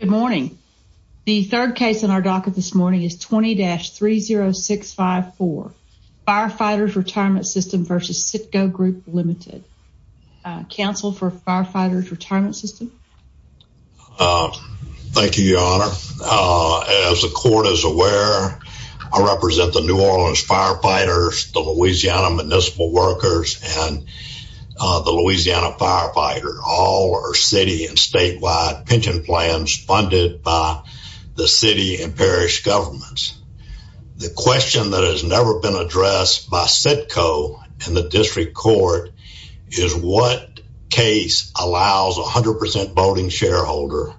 Good morning. The third case in our docket this morning is 20-30654, Firefighters' Retmnt Sys v. Citco Grp Ltd. Counsel for Firefighters' Retmnt Sys? Thank you, Your Honor. As the court is aware, I represent the New Orleans firefighters, the Louisiana municipal workers, and the Louisiana firefighters. All are city and statewide pension plans funded by the city and parish governments. The question that has never been addressed by Citco and the district court is what case allows a 100% voting shareholder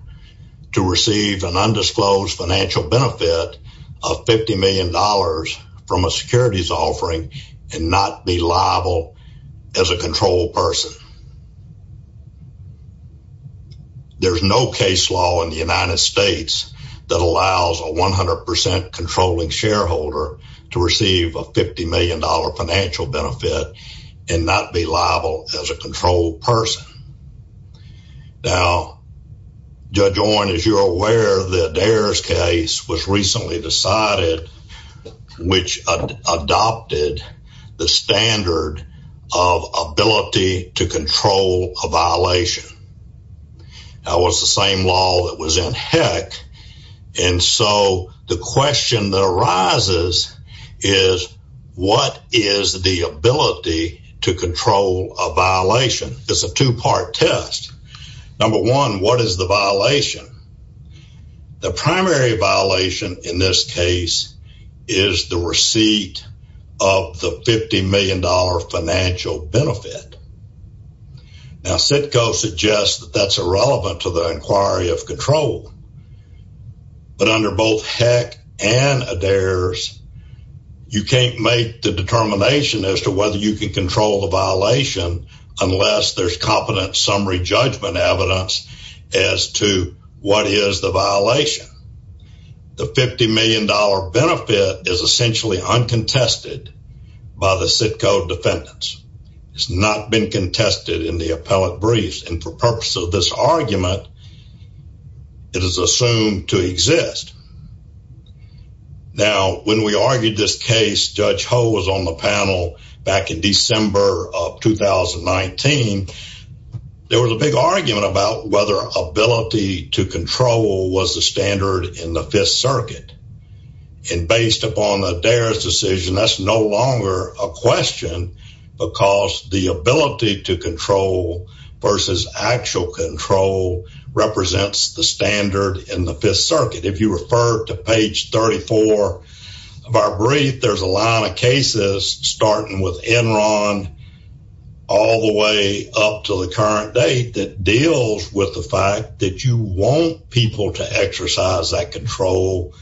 to receive an undisclosed financial benefit of $50 million from a securities offering and not be liable as a control person? There's no case law in the United States that allows a 100% controlling shareholder to receive a $50 million financial benefit and not be liable as a control person. Now, Judge Oren, as you're aware, the Dares case was recently decided, which adopted the standard of ability to control a violation. That was the same law that was in Heck, and so the question that arises is what is the ability to control a violation? It's a two-part test. Number one, what is the violation? The primary violation in this case is the receipt of the $50 million financial benefit. Now, Citco suggests that that's irrelevant to the inquiry of control, but under both Heck and Dares, you can't make the determination as to whether you can control the violation unless there's competent summary judgment evidence as to what is the violation. The $50 million benefit is essentially uncontested by the Citco defendants. It's not been contested in the appellate briefs, and for purpose of this argument, it is assumed to be $50 million. There was a big argument about whether ability to control was the standard in the Fifth Circuit, and based upon the Dares decision, that's no longer a question because the ability to control versus actual control represents the standard in the Fifth Circuit. If you refer to page 34 of our brief, there's a lot of cases starting with Enron, all the way up to the current date, that deals with the fact that you want people to exercise that control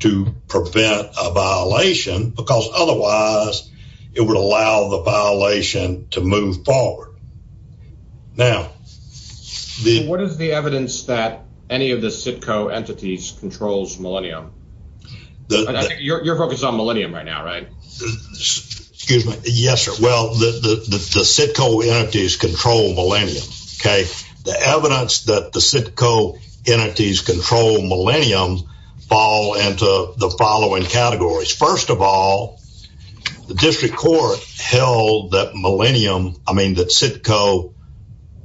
to prevent a violation because otherwise it would allow the violation to move forward. Now, what is the evidence that any of the Citco entities controls Millennium? I think you're focused on Millennium right now, right? Excuse me. Yes, sir. Well, the Citco entities control Millennium, okay? The evidence that the Citco entities control Millennium fall into the following categories. First of all, the district court held that Millennium, I mean that Citco,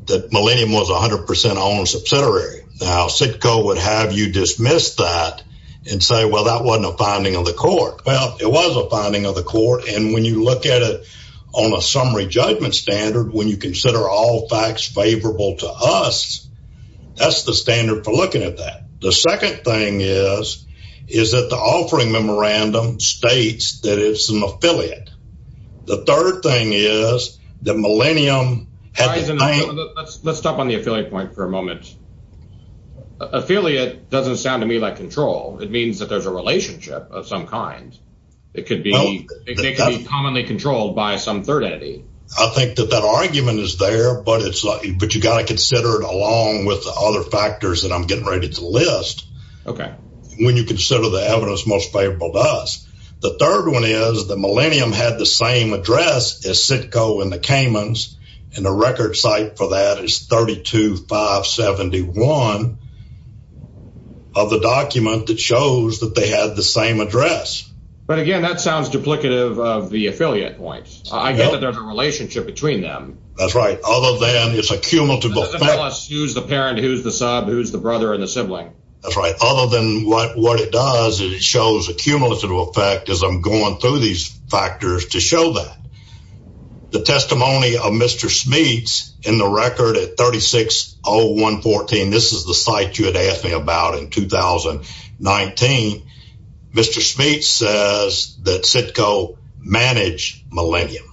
that Millennium was 100% subsidiary. Now, Citco would have you dismiss that and say, well, that wasn't a finding of the court. Well, it was a finding of the court, and when you look at it on a summary judgment standard, when you consider all facts favorable to us, that's the standard for looking at that. The second thing is that the offering memorandum states that it's an affiliate. The third thing is that Millennium... Let's stop on the affiliate point for a moment. Affiliate doesn't sound to me like control. It means that there's a relationship of some kind. It could be commonly controlled by some third entity. I think that that argument is there, but you got to consider it along with the other factors that I'm getting ready to list when you consider the evidence most favorable to us. The third one is that Millennium had the same address as Citco and the Kamens, and the record site for that is 32571 of the document that shows that they had the same address. But again, that sounds duplicative of the affiliate point. I get that there's a relationship between them. That's right. Other than it's a cumulative effect. Who's the parent? Who's the sub? Who's the brother and the sibling? That's right. Other than what it does, it shows a cumulative effect as I'm going through these factors to show that. The testimony of Mr. Schmeetz in the record at 360114, this is the site you had asked me about in 2019. Mr. Schmeetz says that Citco managed Millennium.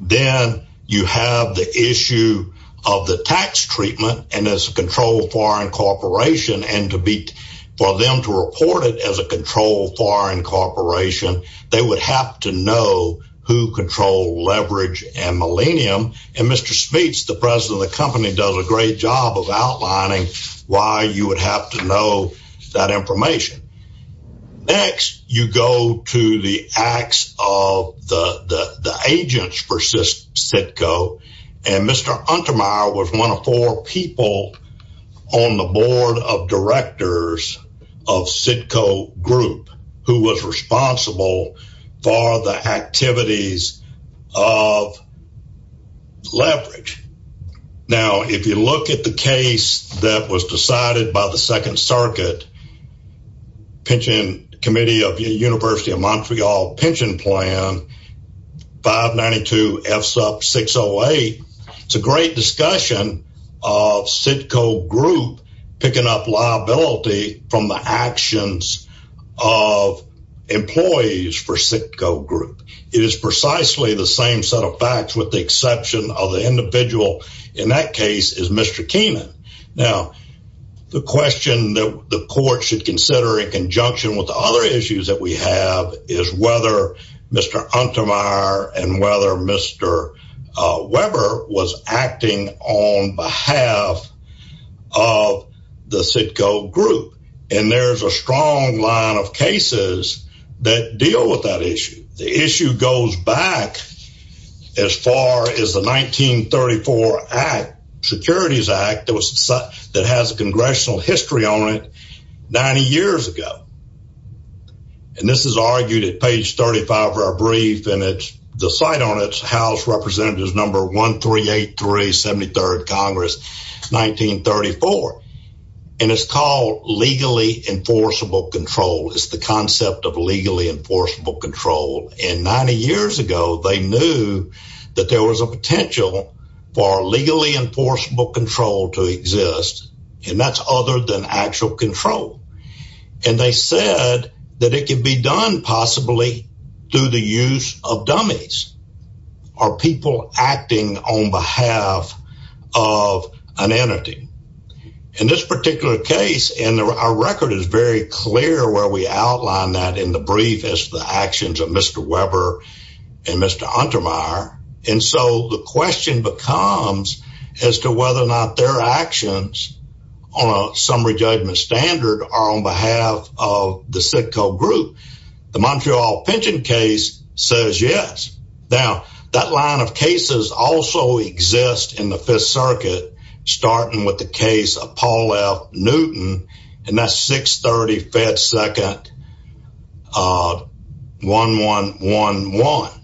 Then you have the issue of the tax treatment and as a controlled foreign corporation and for them to report it as a controlled foreign corporation, they would have to know who controlled Leverage and Millennium. And Mr. Schmeetz, the president of the company does a great job of outlining why you would have to know that information. Next, you go to the acts of the agents for and Mr. Untermeyer was one of four people on the board of directors of Citco Group, who was responsible for the activities of Leverage. Now, if you look at the case that was decided by the Second Circuit Pension Committee of the University of Montreal Pension Plan, 592F608, it's a great discussion of Citco Group picking up liability from the actions of employees for Citco Group. It is precisely the same set of facts with the exception of the individual in that case is Mr. Keenan. Now, the question that the court should consider in and whether Mr. Weber was acting on behalf of the Citco Group, and there's a strong line of cases that deal with that issue. The issue goes back as far as the 1934 Act, Securities Act that has a congressional history on it 90 years ago. And this is argued at page 35 of our brief and it's the site on its house representatives number 1383 73rd Congress 1934. And it's called legally enforceable control is the concept of legally enforceable control. And 90 years ago, they knew that there was a potential for legally actual control. And they said that it could be done possibly through the use of dummies or people acting on behalf of an entity. In this particular case, and our record is very clear where we outline that in the brief is the actions of Mr. Weber and Mr. Untermeyer. And so the question becomes as to whether or not their actions on a summary judgment standard are on behalf of the Citco Group. The Montreal pension case says yes. Now, that line of cases also exists in the Fifth Circuit, starting with the case of Paul F. Newton, and that's 630 Fed Second of 1111.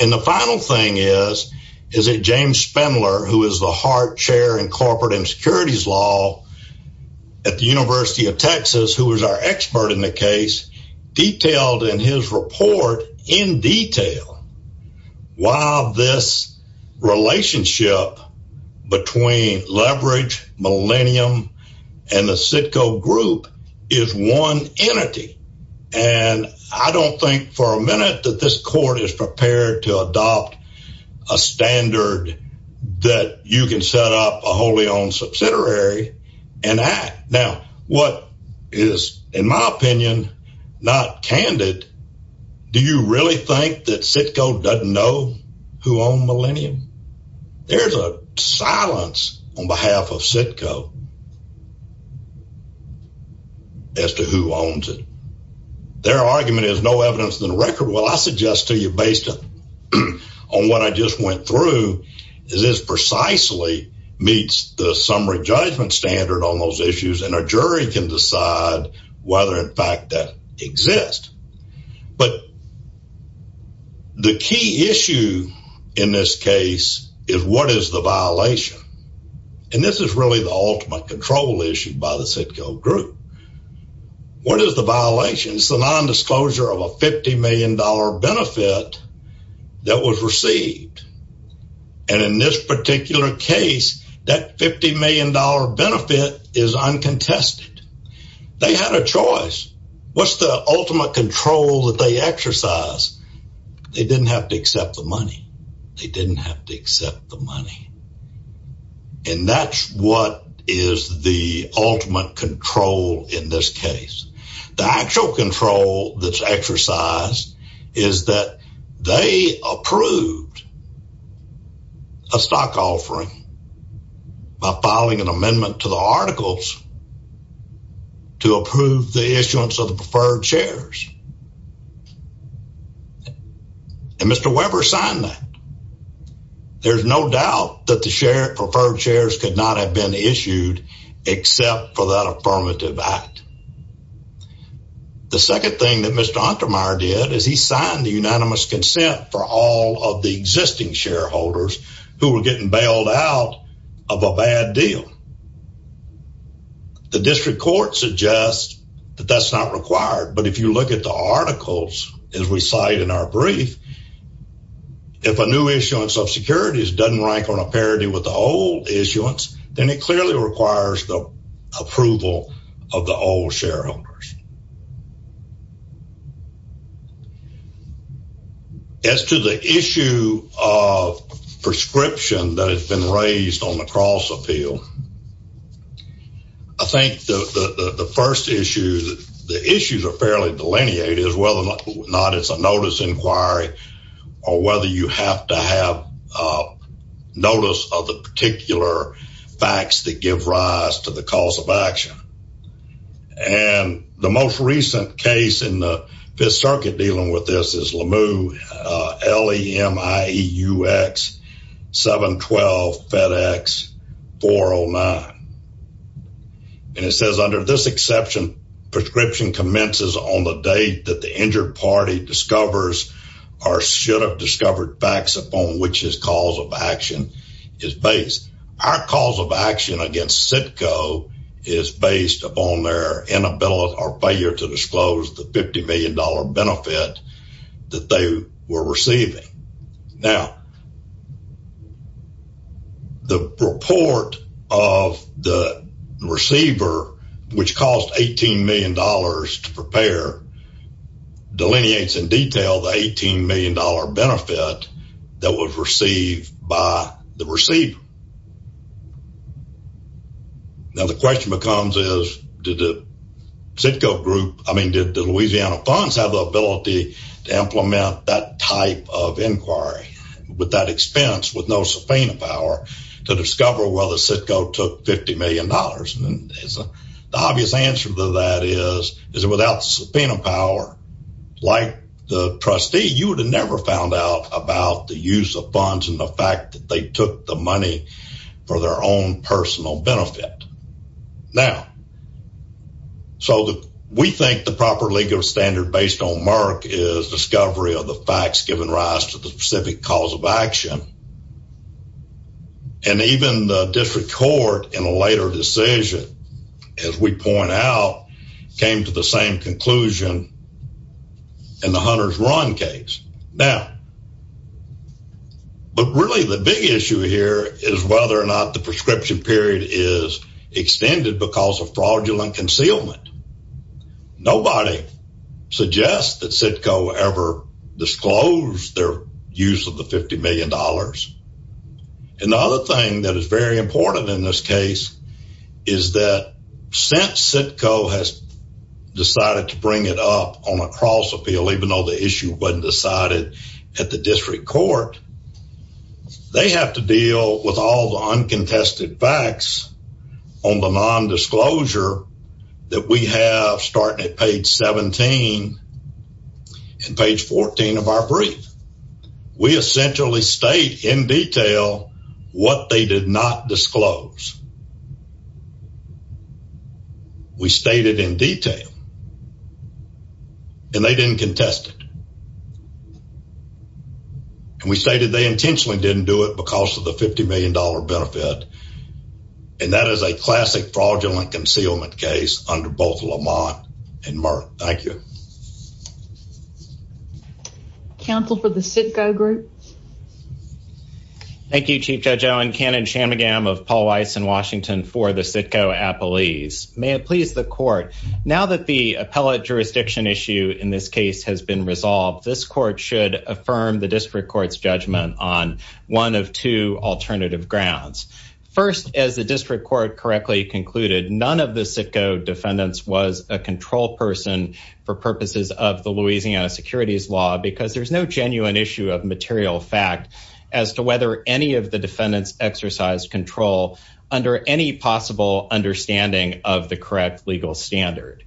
And the final thing is, is it James Spindler, who is the heart chair in corporate insecurities law at the University of Texas, who was our expert in the case, detailed in his report in detail why this relationship between leverage millennium and the Citco Group is one entity. And I don't think for a minute that this court is prepared to adopt a standard that you can set up a wholly owned subsidiary and act. Now, what is, in my opinion, not candid, do you really think that Citco doesn't know who owned millennium? There's a silence on behalf of Citco as to who owns it. Their argument is no evidence in the record. Well, I suggest to you is this precisely meets the summary judgment standard on those issues, and a jury can decide whether in fact that exists. But the key issue in this case is what is the violation? And this is really the ultimate control issue by the Citco Group. What is the violation? It's the nondisclosure of a $50 million benefit that was received. And in this particular case, that $50 million benefit is uncontested. They had a choice. What's the ultimate control that they exercise? They didn't have to accept the money. They didn't have to accept the money. And that's what is the ultimate control in this case. The actual control that's exercised is that they approved a stock offering by filing an amendment to the articles to approve the issuance of the preferred shares. And Mr. Weber signed that. There's no doubt that the preferred shares could not have been issued except for that affirmative act. The second thing that Mr. Untermyer did is he signed the unanimous consent for all of the existing shareholders who were getting bailed out of a bad deal. The district court suggests that that's not required. But if you look at the articles, as we cite in our brief, if a new issuance of securities doesn't rank on a parity with the old approval of the old shareholders. As to the issue of prescription that has been raised on the cross appeal, I think the first issue, the issues are fairly delineated, whether or not it's a notice inquiry, or whether you have to have notice of the particular facts that give rise to the cause of action. And the most recent case in the Fifth Circuit dealing with this is Lemieux, L-E-M-I-E-U-X 712 FedEx 409. And it says under this exception, prescription commences on the date that the party discovers or should have discovered facts upon which his cause of action is based. Our cause of action against CITCO is based upon their inability or failure to disclose the $50 million benefit that they were receiving. Now, the report of the receiver, which caused $18 million to prepare, delineates in detail the $18 million benefit that was received by the receiver. Now, the question becomes is, did the CITCO group, I mean, did the Louisiana funds have the ability to implement that type of inquiry with that expense, with no subpoena power, to discover whether CITCO took $50 million? The obvious answer to that is, is it without the subpoena power, like the trustee, you would have never found out about the use of funds and the fact that they took the money for their own personal benefit. Now, so we think the proper legal standard based on Merck is discovery of the facts given rise to the specific cause of action. And even the district court in a later decision, as we point out, came to the same conclusion in the Hunter's Run case. Now, but really the big issue here is whether or not the prescription period is extended because of fraudulent concealment. Nobody suggests that CITCO ever disclosed their use of the $50 million. And the other thing that is very important in this case is that since CITCO has decided to bring it up on a cross appeal, even though the issue wasn't decided at the district court, they have to deal with all the uncontested facts on the non-disclosure that we have starting at page 17 and page 14 of our brief. We essentially state in detail what they did not disclose. We stated in detail and they didn't contest it. And we stated they intentionally didn't do it because of the $50 million benefit. That is a classic fraudulent concealment case under both Lamont and Merck. Thank you. Counsel for the CITCO group. Thank you, Chief Judge Owen. Canon Chamagam of Paul Weiss in Washington for the CITCO Appellees. May it please the court. Now that the appellate jurisdiction issue in this case has been resolved, this court should affirm the district court's judgment on one of two alternative grounds. First, as the district court correctly concluded, none of the CITCO defendants was a control person for purposes of the Louisiana securities law because there's no genuine issue of material fact as to whether any of the defendants exercise control under any possible understanding of the correct legal standard.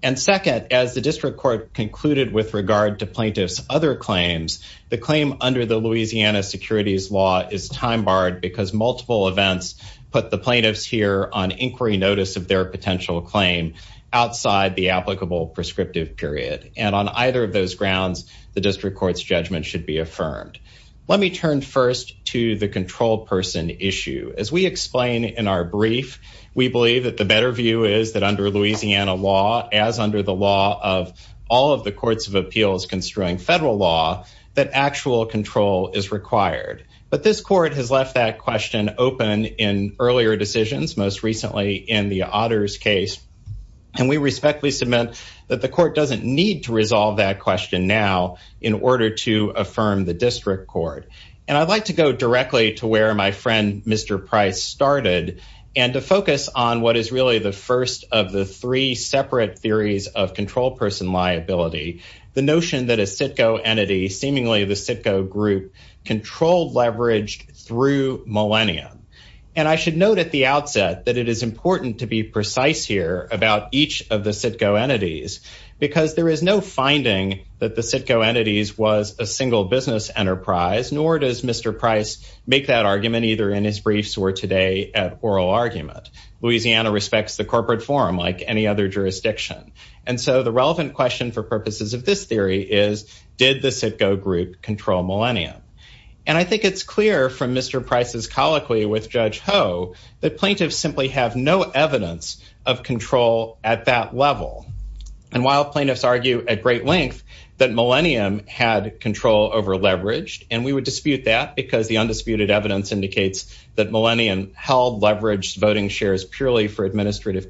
And second, as the district court concluded with regard to plaintiffs other claims, the claim under the Louisiana securities law is time barred because multiple events put the plaintiffs here on inquiry notice of their potential claim outside the applicable prescriptive period. And on either of those grounds, the district court's judgment should be affirmed. Let me turn first to the control person issue. As we explain in our brief, we believe that the better view is that under Louisiana law, as under the law of all of the that actual control is required. But this court has left that question open in earlier decisions, most recently in the otters case. And we respectfully submit that the court doesn't need to resolve that question now in order to affirm the district court. And I'd like to go directly to where my friend Mr. Price started and to focus on what is really the first of the three seemingly the Citgo group controlled, leveraged through millennium. And I should note at the outset that it is important to be precise here about each of the Citgo entities because there is no finding that the Citgo entities was a single business enterprise, nor does Mr. Price make that argument either in his briefs or today at oral argument. Louisiana respects the corporate forum like any other jurisdiction. And so the relevant question for purposes of this theory is did the Citgo group control millennium? And I think it's clear from Mr. Price's colloquy with Judge Ho that plaintiffs simply have no evidence of control at that level. And while plaintiffs argue at great length that millennium had control over leveraged, and we would dispute that because the undisputed evidence indicates that millennium held leveraged voting shares purely for administrative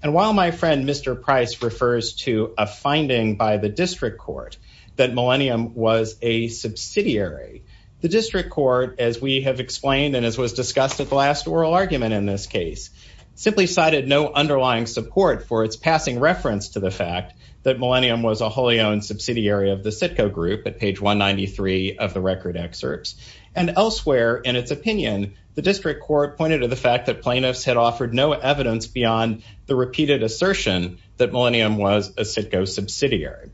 And while my friend Mr. Price refers to a finding by the district court that millennium was a subsidiary, the district court, as we have explained and as was discussed at the last oral argument in this case, simply cited no underlying support for its passing reference to the fact that millennium was a wholly owned subsidiary of the Citgo group at page 193 of the record excerpts. And elsewhere in its opinion, the district court pointed to the fact that plaintiffs had offered no evidence beyond the repeated assertion that millennium was a Citgo subsidiary.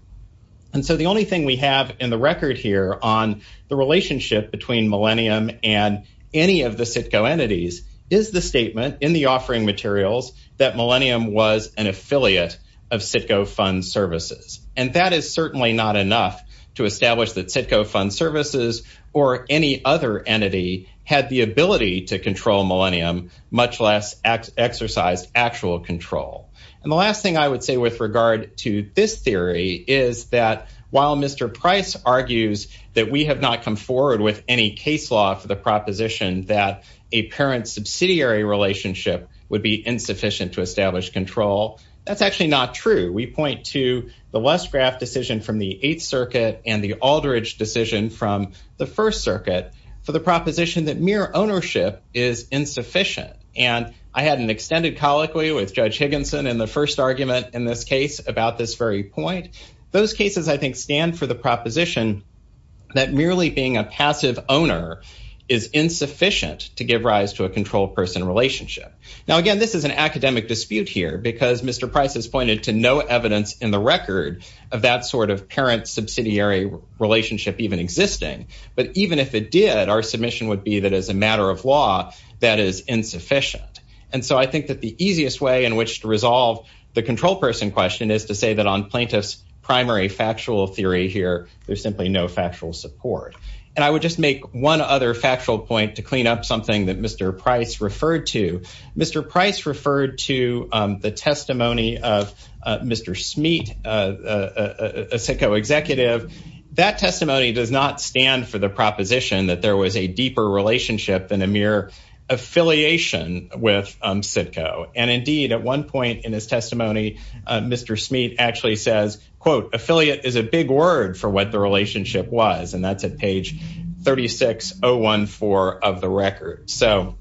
And so the only thing we have in the record here on the relationship between millennium and any of the Citgo entities is the statement in the offering materials that millennium was an affiliate of Citgo fund services. And that is certainly not enough to establish that Citgo fund services or any other entity had the ability to control millennium, much less exercised actual control. And the last thing I would say with regard to this theory is that while Mr. Price argues that we have not come forward with any case law for the proposition that a parent subsidiary relationship would be insufficient to establish control, that's actually not true. We point to the First Circuit for the proposition that mere ownership is insufficient. And I had an extended colloquy with Judge Higginson in the first argument in this case about this very point. Those cases, I think, stand for the proposition that merely being a passive owner is insufficient to give rise to a controlled person relationship. Now, again, this is an academic dispute here because Mr. Price has pointed to no evidence in the record of that sort of parent subsidiary relationship even existing. But even if it did, our submission would be that as a matter of law, that is insufficient. And so I think that the easiest way in which to resolve the control person question is to say that on plaintiff's primary factual theory here, there's simply no factual support. And I would just make one other factual point to clean up something that Mr. Smeet, a CITCO executive, that testimony does not stand for the proposition that there was a deeper relationship than a mere affiliation with CITCO. And indeed, at one point in his testimony, Mr. Smeet actually says, quote, affiliate is a big word for what the relationship was, and that's at page 36014 of the record. So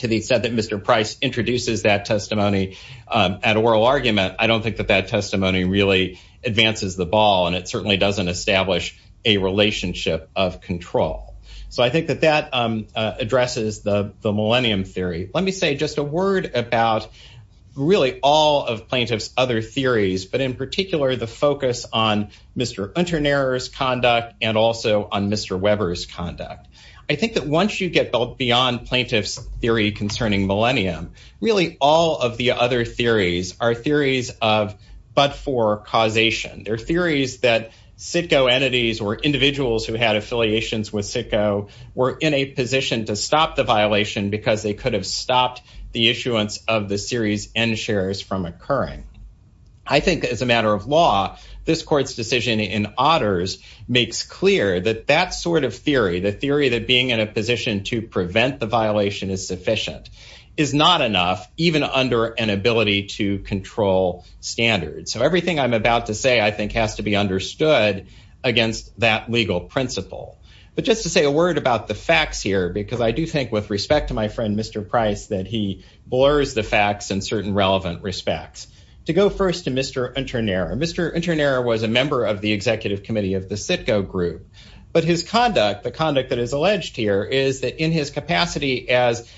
to the extent that Mr. Price introduces that testimony at oral argument, I don't think that that testimony really advances the ball, and it certainly doesn't establish a relationship of control. So I think that that addresses the Millennium Theory. Let me say just a word about really all of plaintiff's other theories, but in particular, the focus on Mr. Unternaher's conduct and also on Mr. Weber's conduct. I think that once you get beyond plaintiff's theory concerning Millennium, really all of the other theories are theories of but-for causation. They're theories that CITCO entities or individuals who had affiliations with CITCO were in a position to stop the violation because they could have stopped the issuance of the series end shares from occurring. I think as a matter of law, this court's decision in Otters makes clear that that sort of theory, the theory that being in a position to prevent the violation is sufficient, is not enough even under an ability to control standards. So everything I'm about to say, I think, has to be understood against that legal principle. But just to say a word about the facts here, because I do think with respect to my friend, Mr. Price, that he blurs the facts in certain relevant respects. To go first to Mr. Unternaher. Mr. Unternaher was a member of the executive committee of the CITCO group, but his conduct, the conduct that is alleged here, is that in his capacity as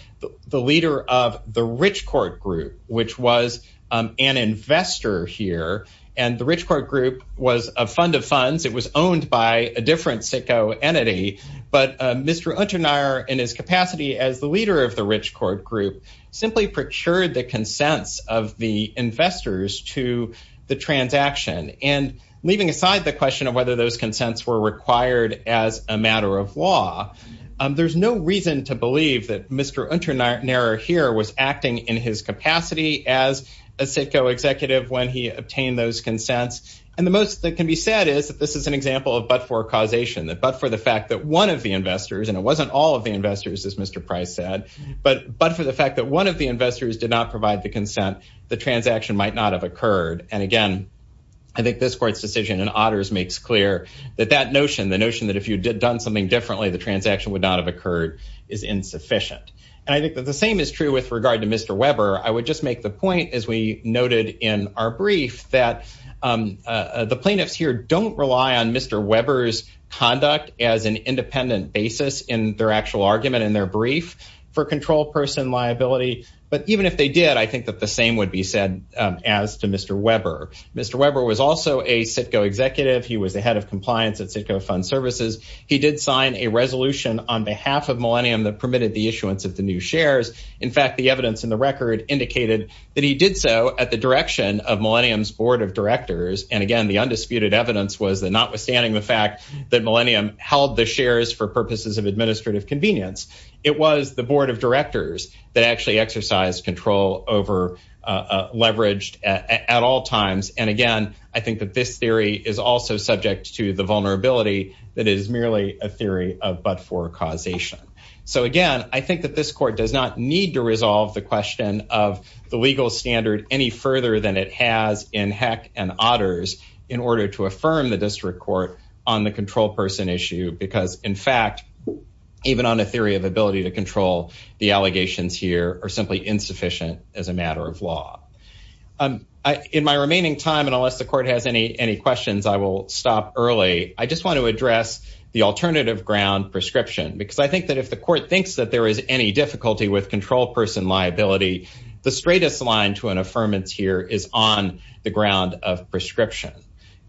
the leader of the rich court group, which was an investor here, and the rich court group was a fund of funds. It was owned by a different CITCO entity. But Mr. Unternaher in his capacity as the leader of the rich court group simply procured the consents of the investors to the transaction. And leaving aside the question of whether those consents were required as a matter of law, there's no reason to believe that Mr. Unternaher here was acting in his capacity as a CITCO executive when he obtained those consents. And the most that can be said is that this is an example of but-for causation, that but for the fact that one of the investors, and it wasn't all of the investors, as Mr. Price said, but for the fact that one of the investors did not provide the consent, the transaction might not have occurred. And again, I think this court's decision in Otters makes clear that that notion, the notion that if you had done something differently, the transaction would not have occurred is insufficient. And I think that the same is true with regard to Mr. Weber. I would just make the point, as we noted in our brief, that the plaintiffs here don't rely on Mr. Weber's conduct as an independent basis in their actual argument in their brief for control person liability. But even if they did, I think that same would be said as to Mr. Weber. Mr. Weber was also a CITCO executive. He was the head of compliance at CITCO Fund Services. He did sign a resolution on behalf of Millennium that permitted the issuance of the new shares. In fact, the evidence in the record indicated that he did so at the direction of Millennium's board of directors. And again, the undisputed evidence was that notwithstanding the fact that Millennium held the shares for purposes of administrative convenience, it was the board of directors that actually exercised control over leveraged at all times. And again, I think that this theory is also subject to the vulnerability that is merely a theory of but-for causation. So again, I think that this court does not need to resolve the question of the legal standard any further than it has in Heck and Otters in order to ability to control the allegations here are simply insufficient as a matter of law. In my remaining time, and unless the court has any questions, I will stop early. I just want to address the alternative ground prescription because I think that if the court thinks that there is any difficulty with control person liability, the straightest line to an affirmance here is on the ground of prescription.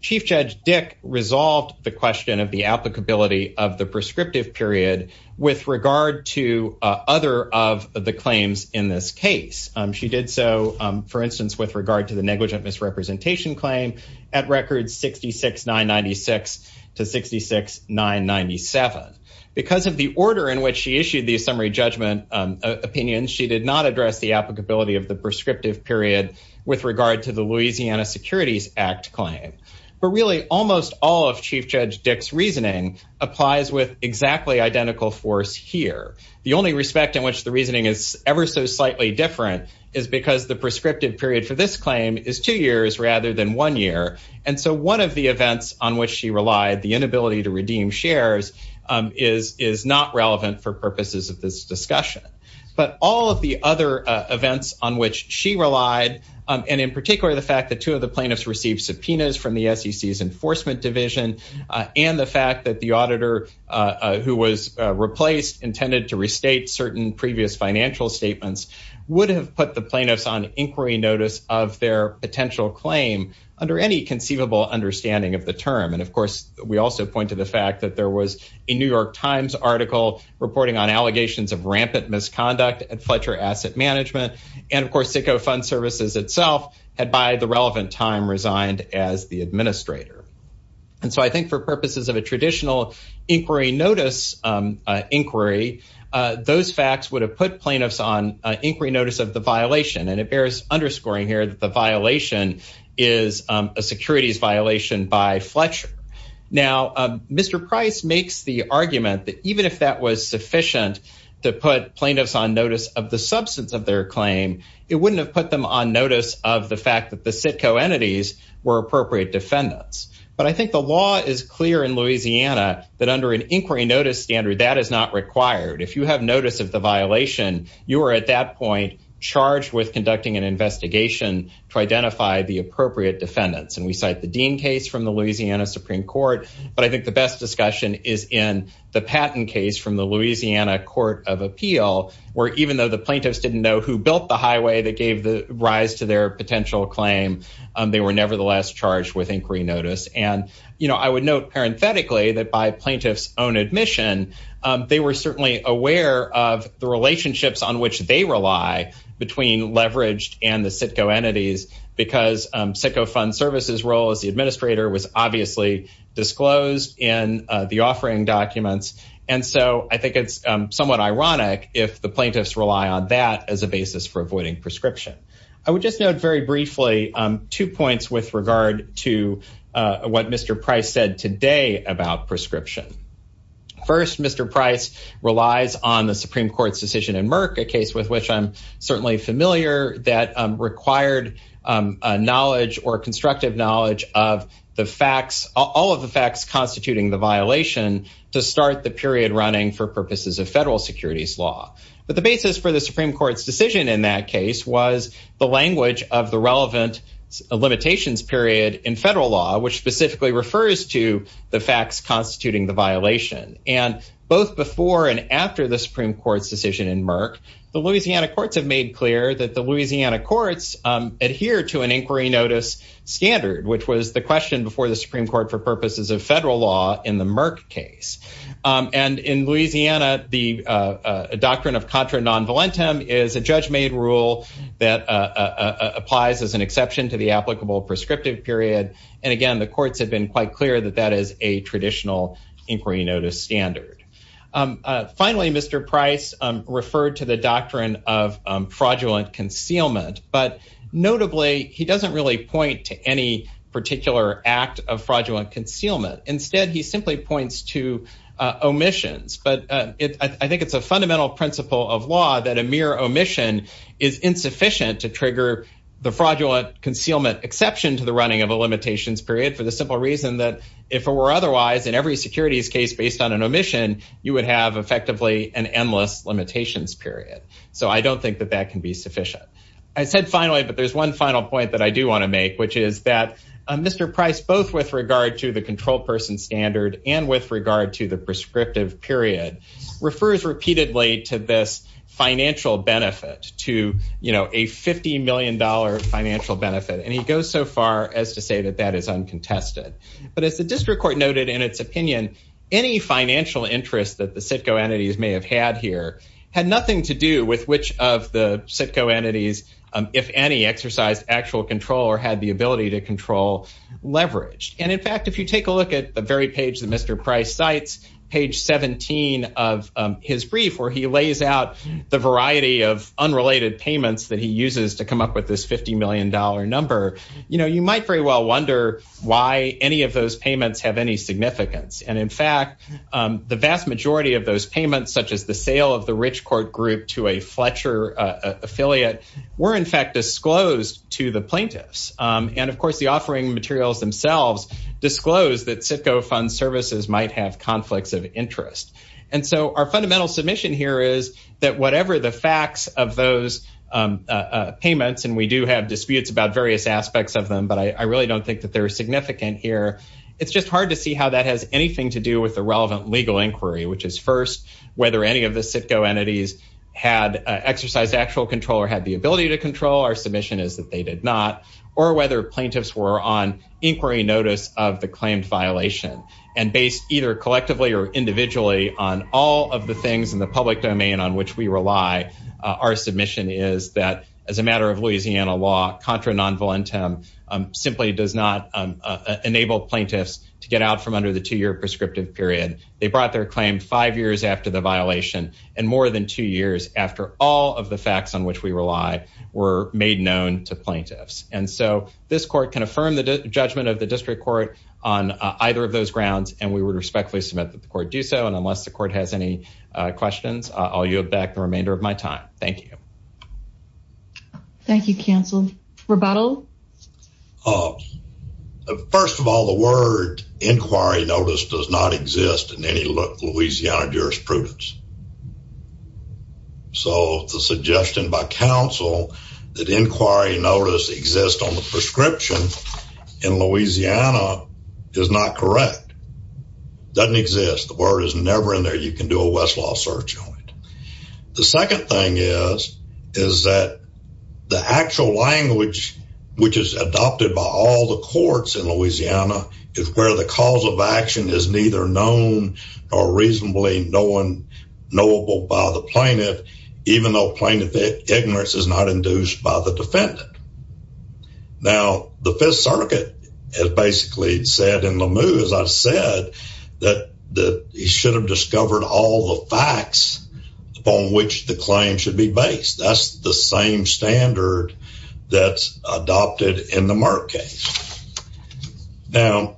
Chief Judge Dick resolved the question of the applicability of the prescriptive period with regard to other of the claims in this case. She did so, for instance, with regard to the negligent misrepresentation claim at record 66-996 to 66-997. Because of the order in which she issued these summary judgment opinions, she did not address the applicability of the prescriptive period with regard to the Louisiana Securities Act claim. But really, almost all of Chief Judge Dick's reasoning applies with exactly identical force here. The only respect in which the reasoning is ever so slightly different is because the prescriptive period for this claim is two years rather than one year. And so one of the events on which she relied, the inability to redeem shares, is not relevant for purposes of this discussion. But all of the other events on which she relied, and in particular the fact that two plaintiffs received subpoenas from the SEC's Enforcement Division, and the fact that the auditor who was replaced intended to restate certain previous financial statements, would have put the plaintiffs on inquiry notice of their potential claim under any conceivable understanding of the term. And of course, we also point to the fact that there was a New York Times article reporting on allegations of rampant misconduct at Fletcher Asset Management. And of course, fund services itself had by the relevant time resigned as the administrator. And so I think for purposes of a traditional inquiry notice inquiry, those facts would have put plaintiffs on inquiry notice of the violation. And it bears underscoring here that the violation is a securities violation by Fletcher. Now, Mr. Price makes the argument that even if that was put them on notice of the fact that the CITCO entities were appropriate defendants. But I think the law is clear in Louisiana that under an inquiry notice standard, that is not required. If you have notice of the violation, you are at that point charged with conducting an investigation to identify the appropriate defendants. And we cite the Dean case from the Louisiana Supreme Court. But I think the best discussion is in the Patton case from the Louisiana Court of Appeal, where even though the plaintiffs didn't know who built the highway that gave the rise to their potential claim, they were nevertheless charged with inquiry notice. And I would note parenthetically that by plaintiffs own admission, they were certainly aware of the relationships on which they rely between leveraged and the CITCO entities, because CITCO fund services role as the administrator was obviously disclosed in the offering documents. And so I think it's somewhat ironic if the plaintiffs rely on that as a basis for avoiding prescription. I would just note very briefly two points with regard to what Mr. Price said today about prescription. First, Mr. Price relies on the Supreme Court's decision in Merck, a case with which I'm certainly familiar that required knowledge or constructive knowledge of the facts, all of the facts constituting the violation to start the period running for purposes of federal securities law. But the basis for the Supreme Court's decision in that case was the language of the relevant limitations period in federal law, which specifically refers to the facts constituting the violation. And both before and after the Supreme Court's decision in Merck, the Louisiana courts have made clear that the Louisiana courts adhere to an inquiry notice standard, which was the question before the Supreme Court for purposes of federal law in the Merck case. And in Louisiana, the doctrine of contra non volentem is a judge made rule that applies as an exception to the applicable prescriptive period. And again, the courts have been quite clear that that is a traditional inquiry notice standard. Finally, Mr. Price referred to the doctrine of fraudulent concealment. But notably, he doesn't really point to any particular act of fraudulent concealment. Instead, he simply points to omissions. But I think it's a fundamental principle of law that a mere omission is insufficient to trigger the fraudulent concealment exception to the running of a limitations period for the simple reason that if it were otherwise in every securities case based on an omission, you would have effectively an endless limitations period. So I don't think that that can be sufficient. I said finally, but there's one final point that I do want to make, which is that Mr. Price, both with regard to the control person standard and with regard to the prescriptive period, refers repeatedly to this financial benefit to, you know, a $50 million financial benefit. And he goes so far as to say that that is uncontested. But as the district court noted in its opinion, any financial interest that the CITCO entities may have had here had nothing to do with which of the CITCO entities, if any, exercised actual control or had the ability to control leverage. And in fact, if you take a look at the very page that Mr. Price cites, page 17 of his brief, where he lays out the variety of unrelated payments that he uses to come up with this $50 million number, you know, you might very well wonder why any of those payments have any significance. And in fact, the vast majority of those payments, such as the sale of the rich court group to a Fletcher affiliate, were in fact disclosed to the plaintiffs. And of course, the offering materials themselves disclose that CITCO fund services might have conflicts of interest. And so our fundamental submission here is that whatever the facts of those payments, and we do have disputes about various aspects of them, but I really don't think that they're significant here. It's just hard to see how that has anything to do with the relevant legal inquiry, which is first, whether any of the CITCO entities had exercised actual control or had the ability to control, our submission is that they did not, or whether plaintiffs were on inquiry notice of the claimed violation. And based either collectively or individually on all of the things in the public domain on which we rely, our submission is that as a matter of Louisiana law, contra non volentem simply does not enable plaintiffs to get out from under the two-year prescriptive period. They brought their claim five years after the violation and more than two years after all of the facts on which we rely were made known to plaintiffs. And so this court can on either of those grounds, and we would respectfully submit that the court do so. And unless the court has any questions, I'll yield back the remainder of my time. Thank you. Thank you, counsel. Rebuttal? First of all, the word inquiry notice does not exist in any Louisiana jurisprudence. So the suggestion by counsel that inquiry notice exists on the prescription in Louisiana is not correct. It doesn't exist. The word is never in there. You can do a Westlaw search on it. The second thing is, is that the actual language which is adopted by all the courts in Louisiana is where the cause of action is neither known or reasonably knowable by the plaintiff, even though plaintiff ignorance is not induced by the defendant. Now, the Fifth Circuit has basically said in LeMieux, as I've said, that he should have discovered all the facts upon which the claim should be based. That's the same standard that's adopted in the Merck case. Now,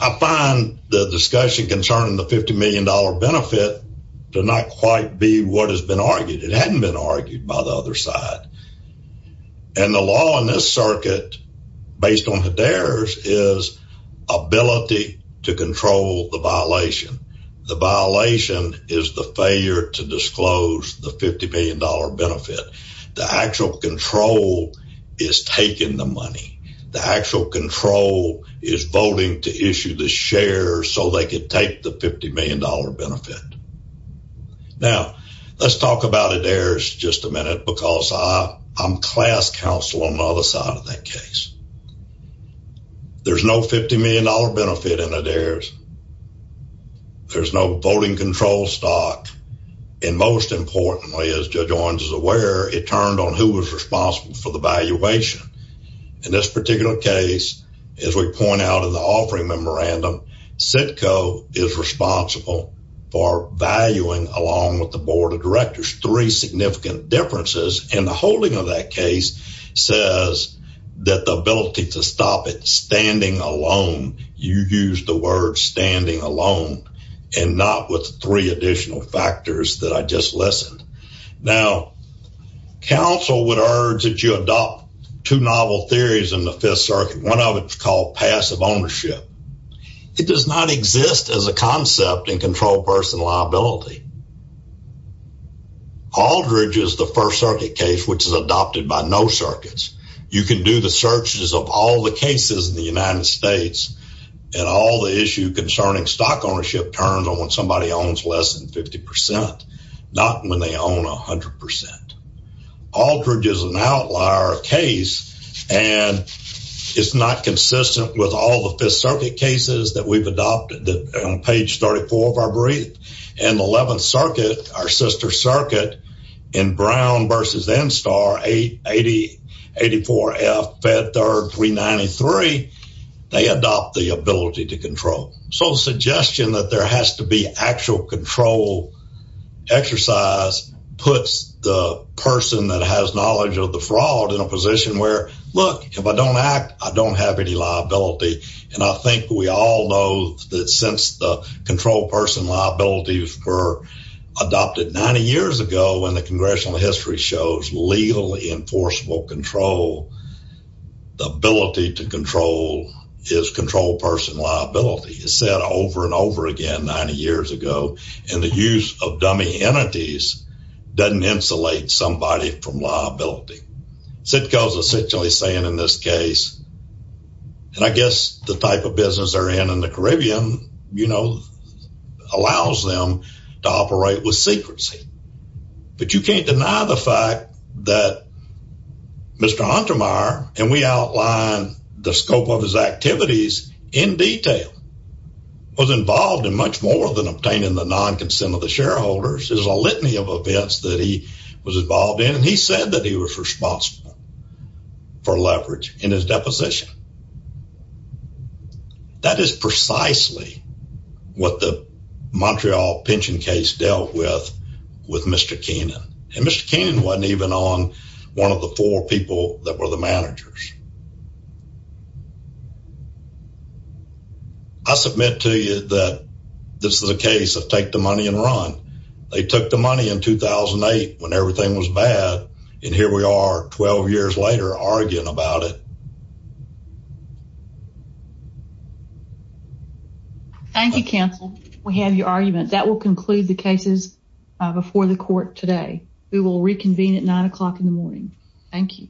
I find the discussion concerning the $50 million benefit to not quite be what has been argued. It hadn't been argued by the other side. And the law in this circuit, based on Hedera's, is ability to control the violation. The violation is the failure to disclose the $50 million benefit. The actual control is taking the money. The actual control is voting to issue the share so they could take the $50 million benefit. Now, let's talk about Hedera's just a minute because I'm class counsel on the other side of that case. There's no $50 million benefit in Hedera's. There's no voting control stock. And most importantly, as Judge Owens is aware, it turned on who was responsible for the valuation. In this particular case, as we point out in the offering memorandum, CITCO is responsible for valuing, along with the Board of Directors, three significant differences. And the holding of that case says that the ability to stop it standing alone, you use the word standing alone, and not with three additional factors that I just listened. Now, counsel would urge that you adopt two novel theories in the Fifth Circuit. One of called passive ownership. It does not exist as a concept in controlled personal liability. Aldridge is the First Circuit case, which is adopted by no circuits. You can do the searches of all the cases in the United States, and all the issue concerning stock ownership turns on when somebody owns less than 50%, not when they own 100%. Aldridge is an outlier case, and it's not consistent with all the Fifth Circuit cases that we've adopted on page 34 of our brief. In the 11th Circuit, our sister circuit, in Brown versus NSTAR, 8084F, Fed Third 393, they adopt the ability to control. So the suggestion that there has to be actual control exercise puts the person that has knowledge of the fraud in a position where, look, if I don't act, I don't have any liability. And I think we all know that since the controlled personal liabilities were adopted 90 years ago when the Congressional history shows legally enforceable control, the ability to control is controlled personal liability. It's said over and over again 90 years ago, and the use of dummy entities doesn't insulate somebody from liability. Sitka is essentially saying in this case, and I guess the type of business they're in in the Caribbean, you know, allows them to operate with secrecy. But you can't deny the fact that Mr. Untermyer, and we outline the scope of his activities in detail, was involved in much more than obtaining the non-consent of the shareholders. There's a litany of events that he was involved in, and he said that he was responsible for leverage in his deposition. That is precisely what the Montreal pension case dealt with with Mr. Keenan. And Mr. Keenan wasn't even on one of the four people that were the managers. I submit to you that this is a case of take the money and run. They took the money in 2008 when everything was bad, and here we are 12 years later arguing about it. Thank you, counsel. We have your argument. That will conclude the cases before the court today. We will reconvene at nine o'clock in the morning. Thank you.